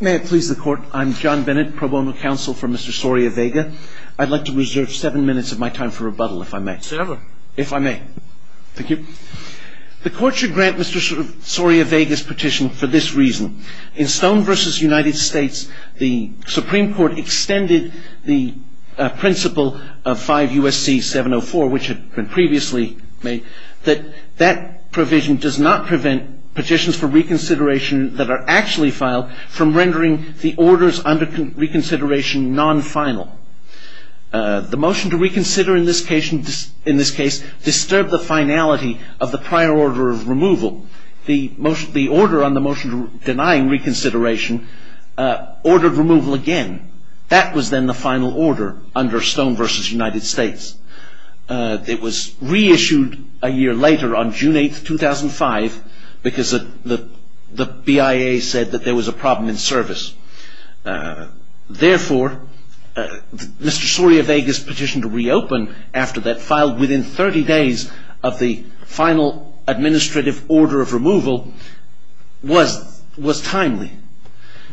May it please the Court, I'm John Bennett, Pro Bono Counsel for Mr. Soria Vega. I'd like to reserve seven minutes of my time for rebuttal, if I may. Seven. If I may. Thank you. The Court should grant Mr. Soria Vega's petition for this reason. In Stone v. United States, the Supreme Court extended the principle of 5 U.S.C. 704, which had been previously made, that that provision does not prevent petitions for reconsideration that are actually filed from rendering the orders under reconsideration non-final. The motion to reconsider in this case disturbed the finality of the prior order of removal. The order on the motion denying reconsideration ordered removal again. That was then the final order under Stone v. United States. It was reissued a year later on June 8, 2005, because the BIA said that there was a problem in service. Therefore, Mr. Soria Vega's petition to reopen after that, filed within 30 days of the final administrative order of removal, was timely.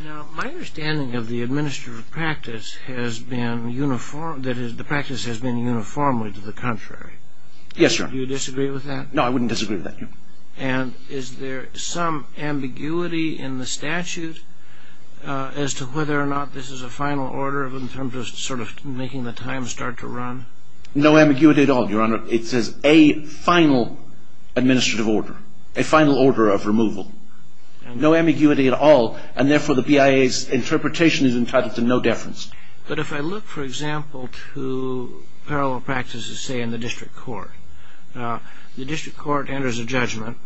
Now, my understanding of the administrative practice has been uniform, that is, the practice has been uniformly to the contrary. Yes, Your Honor. Do you disagree with that? No, I wouldn't disagree with that, Your Honor. And is there some ambiguity in the statute as to whether or not this is a final order in terms of sort of making the time start to run? No ambiguity at all, Your Honor. It says a final administrative order, a final order of removal. No ambiguity at all, and therefore the BIA's interpretation is entitled to no deference. But if I look, for example, to parallel practices, say, in the district court, the district court enters a judgment.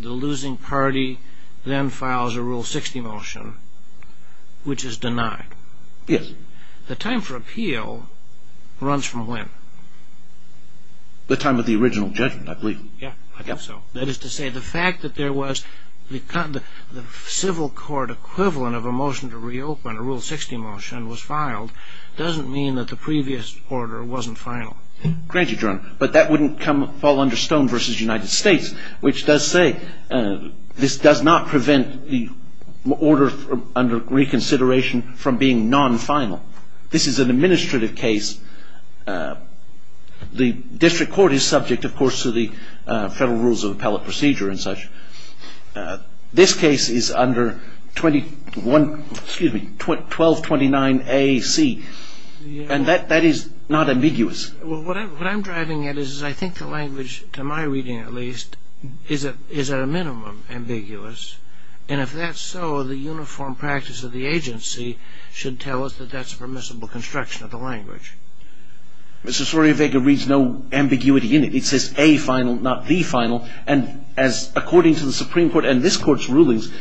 The losing party then files a Rule 60 motion, which is denied. Yes. The time for appeal runs from when? The time of the original judgment, I believe. Yes, I think so. That is to say, the fact that there was the civil court equivalent of a motion to reopen, a Rule 60 motion was filed, doesn't mean that the previous order wasn't final. Granted, Your Honor. But that wouldn't fall under Stone v. United States, which does say this does not prevent the order under reconsideration from being non-final. This is an administrative case. The district court is subject, of course, to the Federal Rules of Appellate Procedure and such. This case is under 1229 A.C., and that is not ambiguous. What I'm driving at is I think the language, to my reading at least, is at a minimum ambiguous, and if that's so, the uniform practice of the agency should tell us that that's permissible construction of the language. Mr. Sorriavega reads no ambiguity in it. It says a final, not the final, and as according to the Supreme Court and this Court's rulings,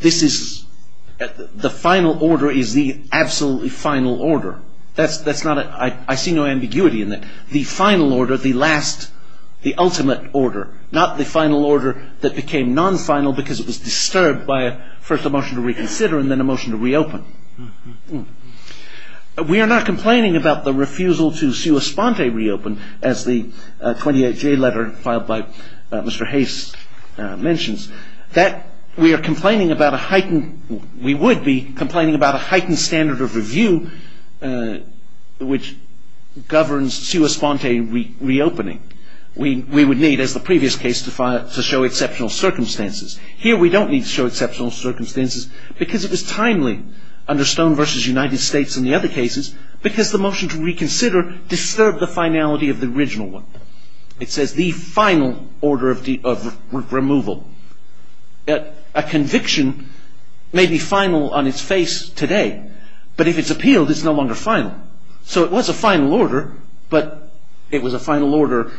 the final order is the absolutely final order. I see no ambiguity in that. The final order, the last, the ultimate order, not the final order that became non-final because it was disturbed by first a motion to reconsider and then a motion to reopen. We are not complaining about the refusal to sua sponte reopen, as the 28-J letter filed by Mr. Hayes mentions. We are complaining about a heightened, we would be complaining about a heightened standard of review which governs sua sponte reopening. We would need, as the previous case, to show exceptional circumstances. Here we don't need to show exceptional circumstances because it is timely under Stone v. United States and the other cases because the motion to reconsider disturbed the finality of the original one. It says the final order of removal. A conviction may be final on its face today, but if it's appealed, it's no longer final. So it was a final order, but it was a final order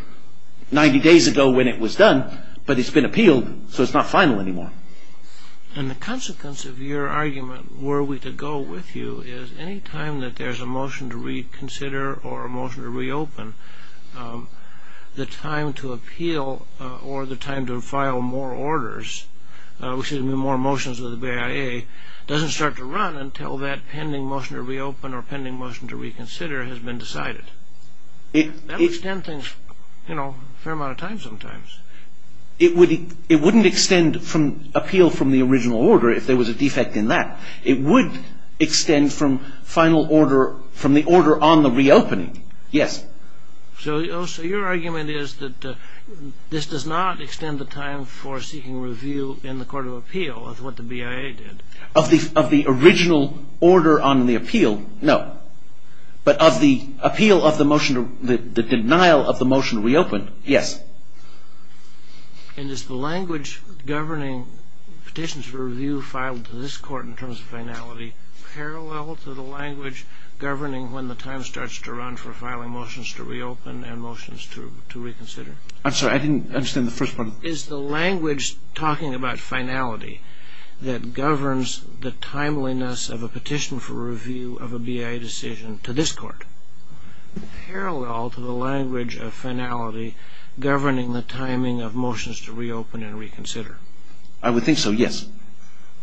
90 days ago when it was done, but it's been appealed, so it's not final anymore. And the consequence of your argument, were we to go with you, is any time that there's a motion to reconsider or a motion to reopen, the time to appeal or the time to file more orders, which is more motions with the BIA, doesn't start to run until that pending motion to reopen or pending motion to reconsider has been decided. That would extend things a fair amount of time sometimes. It wouldn't extend appeal from the original order if there was a defect in that. It would extend from the order on the reopening. Yes. So your argument is that this does not extend the time for seeking review in the court of appeal of what the BIA did. Of the original order on the appeal, no. But of the appeal of the motion, the denial of the motion to reopen, yes. And is the language governing petitions for review filed to this court in terms of finality parallel to the language governing when the time starts to run for filing motions to reopen and motions to reconsider? I'm sorry, I didn't understand the first part. Is the language talking about finality that governs the timeliness of a petition for review of a BIA decision to this court parallel to the language of finality governing the timing of motions to reopen and reconsider? I would think so, yes.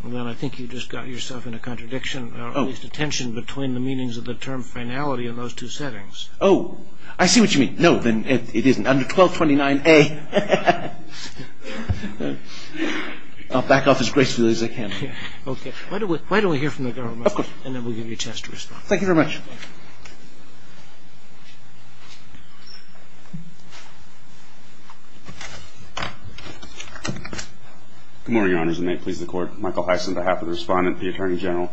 Then I think you just got yourself in a contradiction, or at least a tension between the meanings of the term finality in those two settings. Oh, I see what you mean. No, then it isn't. Under 1229A, I'll back off as gracefully as I can. Okay. Why don't we hear from the government and then we'll give you a chance to respond. Thank you very much. Thank you. Good morning, Your Honors, and may it please the Court. Michael Heiss on behalf of the Respondent, the Attorney General.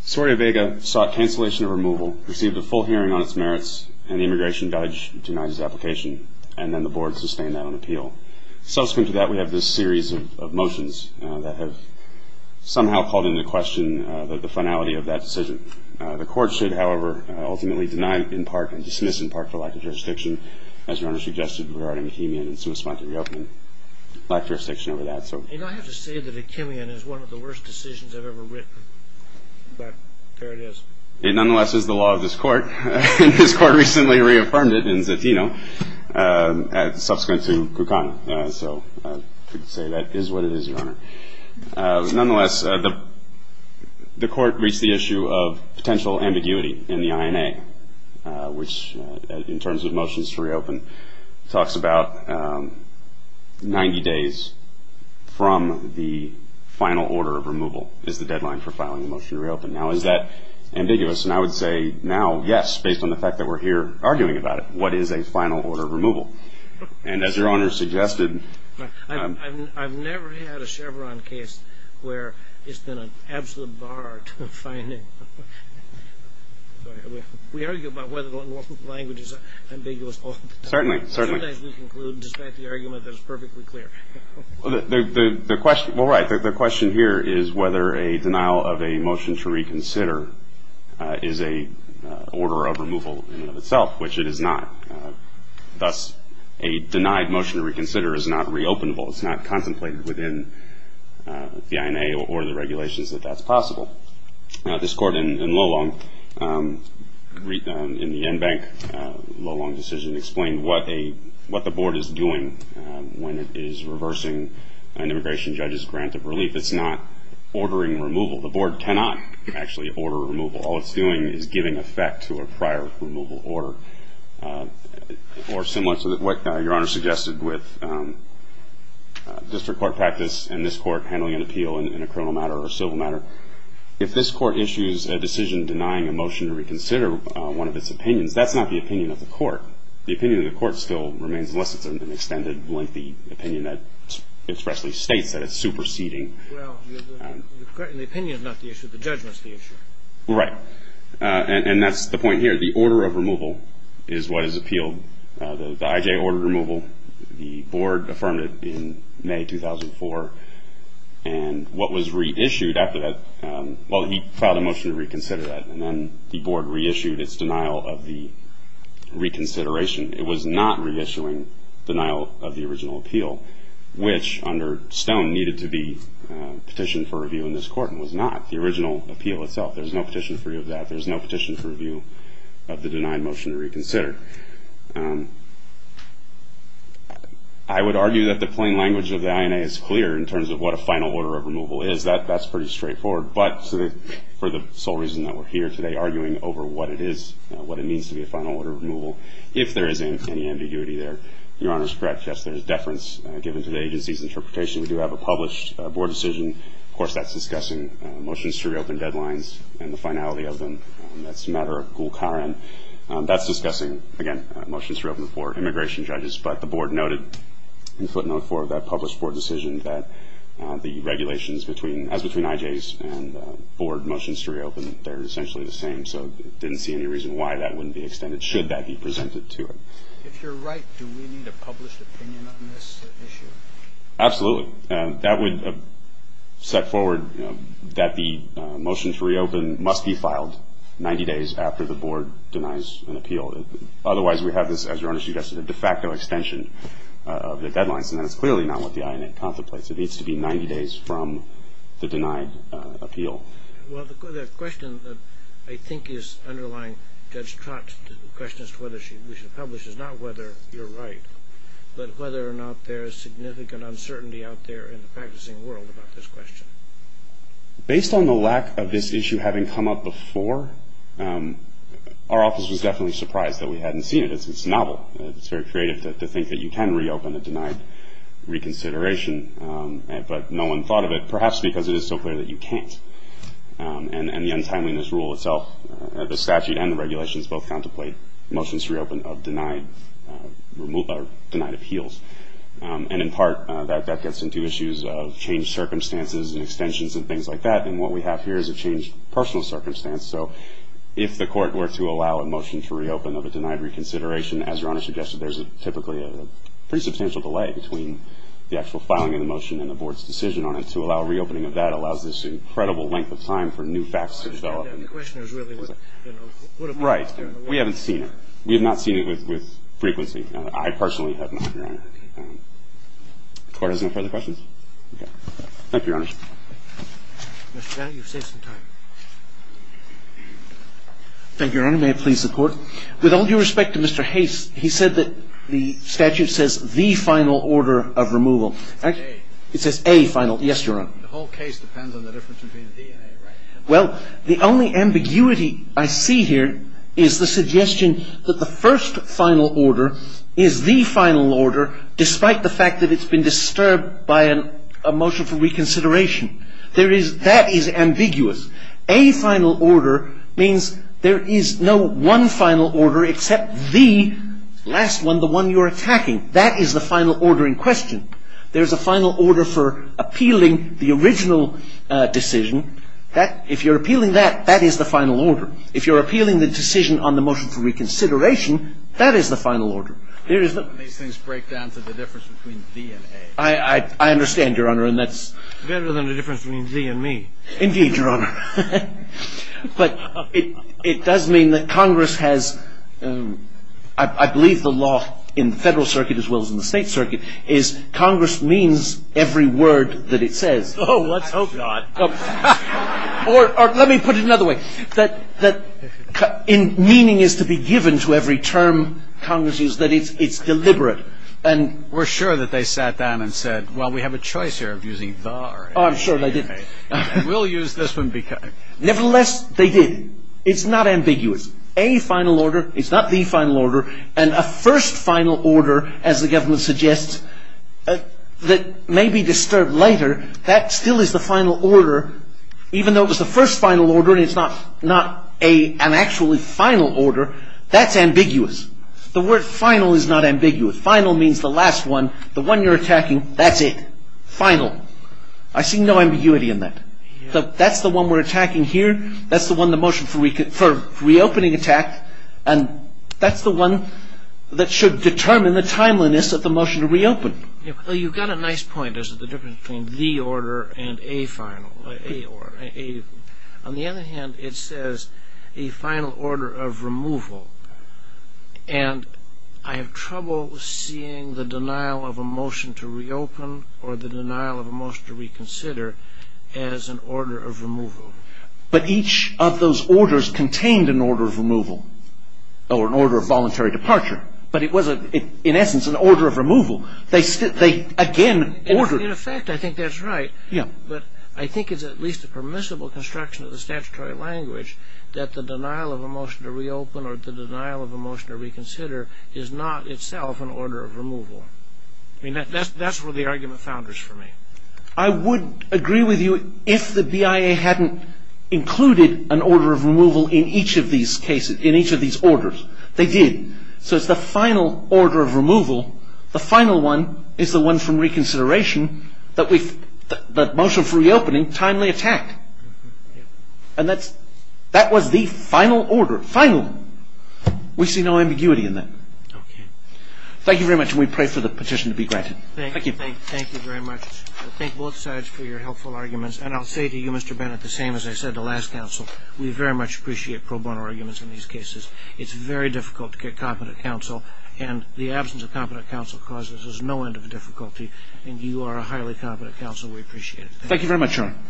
Soria Vega sought cancellation of removal, received a full hearing on its merits, and the Immigration Judge denied his application, and then the Board sustained that on appeal. Subsequent to that, we have this series of motions that have somehow called into question the finality of that decision. The Court should, however, ultimately deny in part and dismiss in part for lack of jurisdiction, as Your Honor suggested, regarding Vickinian and some response to reopening, lack of jurisdiction over that. You know, I have to say that Vickinian is one of the worst decisions I've ever written, but there it is. It nonetheless is the law of this Court, and this Court recently reaffirmed it in Zatino, subsequent to Kukan. So I can say that is what it is, Your Honor. Nonetheless, the Court reached the issue of potential ambiguity in the INA, which in terms of motions to reopen, talks about 90 days from the final order of removal is the deadline for filing a motion to reopen. Now, is that ambiguous? And I would say now, yes, based on the fact that we're here arguing about it. What is a final order of removal? And as Your Honor suggested. I've never had a Chevron case where it's been an absolute bar to finding. We argue about whether or not the language is ambiguous all the time. Certainly, certainly. Sometimes we conclude despite the argument that it's perfectly clear. The question here is whether a denial of a motion to reconsider is an order of removal in and of itself, which it is not. Thus, a denied motion to reconsider is not reopenable. It's not contemplated within the INA or the regulations that that's possible. Now, this Court in Lolong, in the NBank Lolong decision, explained what the Board is doing when it is reversing an immigration judge's grant of relief. It's not ordering removal. The Board cannot actually order removal. All it's doing is giving effect to a prior removal order or similar. So what Your Honor suggested with district court practice and this Court handling an appeal in a criminal matter or civil matter, if this Court issues a decision denying a motion to reconsider one of its opinions, that's not the opinion of the Court. The opinion of the Court still remains less than an extended, lengthy opinion that expressly states that it's superseding. Well, the opinion is not the issue. The judgment is the issue. Right. And that's the point here. The order of removal is what is appealed. The IJ ordered removal. The Board affirmed it in May 2004. And what was reissued after that, well, he filed a motion to reconsider that, and then the Board reissued its denial of the reconsideration. It was not reissuing denial of the original appeal, which under Stone needed to be petitioned for review in this Court and was not. The original appeal itself, there's no petition for review of that. There's no petition for review of the denied motion to reconsider. I would argue that the plain language of the INA is clear in terms of what a final order of removal is. That's pretty straightforward. But for the sole reason that we're here today arguing over what it is, what it means to be a final order of removal, if there is any ambiguity there, Your Honor is correct. Yes, there is deference given to the agency's interpretation. We do have a published Board decision. Of course, that's discussing motions to reopen deadlines and the finality of them. That's a matter of gul karen. That's discussing, again, motions to reopen for immigration judges. But the Board noted in footnote 4 of that published Board decision that the regulations as between IJs and Board motions to reopen, they're essentially the same. So I didn't see any reason why that wouldn't be extended should that be presented to it. If you're right, do we need a published opinion on this issue? Absolutely. So that would set forward that the motion to reopen must be filed 90 days after the Board denies an appeal. Otherwise, we have this, as Your Honor suggested, a de facto extension of the deadlines, and that is clearly not what the INA contemplates. It needs to be 90 days from the denied appeal. Well, the question that I think is underlying Judge Trott's question as to whether we should publish is not whether you're right, but whether or not there is significant uncertainty out there in the practicing world about this question. Based on the lack of this issue having come up before, our office was definitely surprised that we hadn't seen it. It's novel. It's very creative to think that you can reopen a denied reconsideration, but no one thought of it, perhaps because it is so clear that you can't. And the untimeliness rule itself, the statute and the regulations both contemplate motions to reopen of denied appeals. And in part, that gets into issues of changed circumstances and extensions and things like that, and what we have here is a changed personal circumstance. So if the court were to allow a motion to reopen of a denied reconsideration, as Your Honor suggested, there's typically a pretty substantial delay between the actual filing of the motion and the Board's decision on it. And to allow reopening of that allows this incredible length of time for new facts to develop. I understand that. The question is really, you know, what if we were to stay on the record? Right. We haven't seen it. We have not seen it with frequency. I personally have not, Your Honor. The Court has no further questions? Okay. Thank you, Your Honor. Mr. Van, you've saved some time. Thank you, Your Honor. May I please support? With all due respect to Mr. Haise, he said that the statute says the final order of removal. A. It says A final. Yes, Your Honor. The whole case depends on the difference between D and A, right? Well, the only ambiguity I see here is the suggestion that the first final order is the final order, despite the fact that it's been disturbed by a motion for reconsideration. That is ambiguous. A final order means there is no one final order except the last one, the one you're attacking. That is the final order in question. There is a final order for appealing the original decision. If you're appealing that, that is the final order. If you're appealing the decision on the motion for reconsideration, that is the final order. These things break down to the difference between D and A. I understand, Your Honor, and that's — Better than the difference between D and me. Indeed, Your Honor. But it does mean that Congress has — I believe the law in the Federal Circuit as well as in the State Circuit is Congress means every word that it says. Oh, let's hope not. Or let me put it another way, that meaning is to be given to every term Congress uses, that it's deliberate. And we're sure that they sat down and said, well, we have a choice here of using the or A. Oh, I'm sure they did. We'll use this one because — Nevertheless, they did. It's not ambiguous. A final order is not the final order. And a first final order, as the government suggests, that may be disturbed later, that still is the final order. Even though it was the first final order and it's not an actually final order, that's ambiguous. The word final is not ambiguous. Final means the last one, the one you're attacking, that's it. Final. Final. I see no ambiguity in that. That's the one we're attacking here. That's the one the motion for reopening attacked. And that's the one that should determine the timeliness of the motion to reopen. You've got a nice point as to the difference between the order and a final. On the other hand, it says a final order of removal. And I have trouble seeing the denial of a motion to reopen or the denial of a motion to reconsider as an order of removal. But each of those orders contained an order of removal or an order of voluntary departure. But it was, in essence, an order of removal. They again ordered — In effect, I think that's right. Yeah. But I think it's at least a permissible construction of the statutory language that the denial of a motion to reopen or the denial of a motion to reconsider is not itself an order of removal. I mean, that's where the argument founders for me. I would agree with you if the BIA hadn't included an order of removal in each of these cases, in each of these orders. They did. So it's the final order of removal. The final one is the one from reconsideration that the motion for reopening timely attacked. And that was the final order, final. We see no ambiguity in that. Okay. Thank you very much, and we pray for the petition to be granted. Thank you. Thank you very much. I thank both sides for your helpful arguments. And I'll say to you, Mr. Bennett, the same as I said to last counsel, we very much appreciate pro bono arguments in these cases. It's very difficult to get competent counsel. And the absence of competent counsel causes us no end of difficulty. And you are a highly competent counsel. We appreciate it.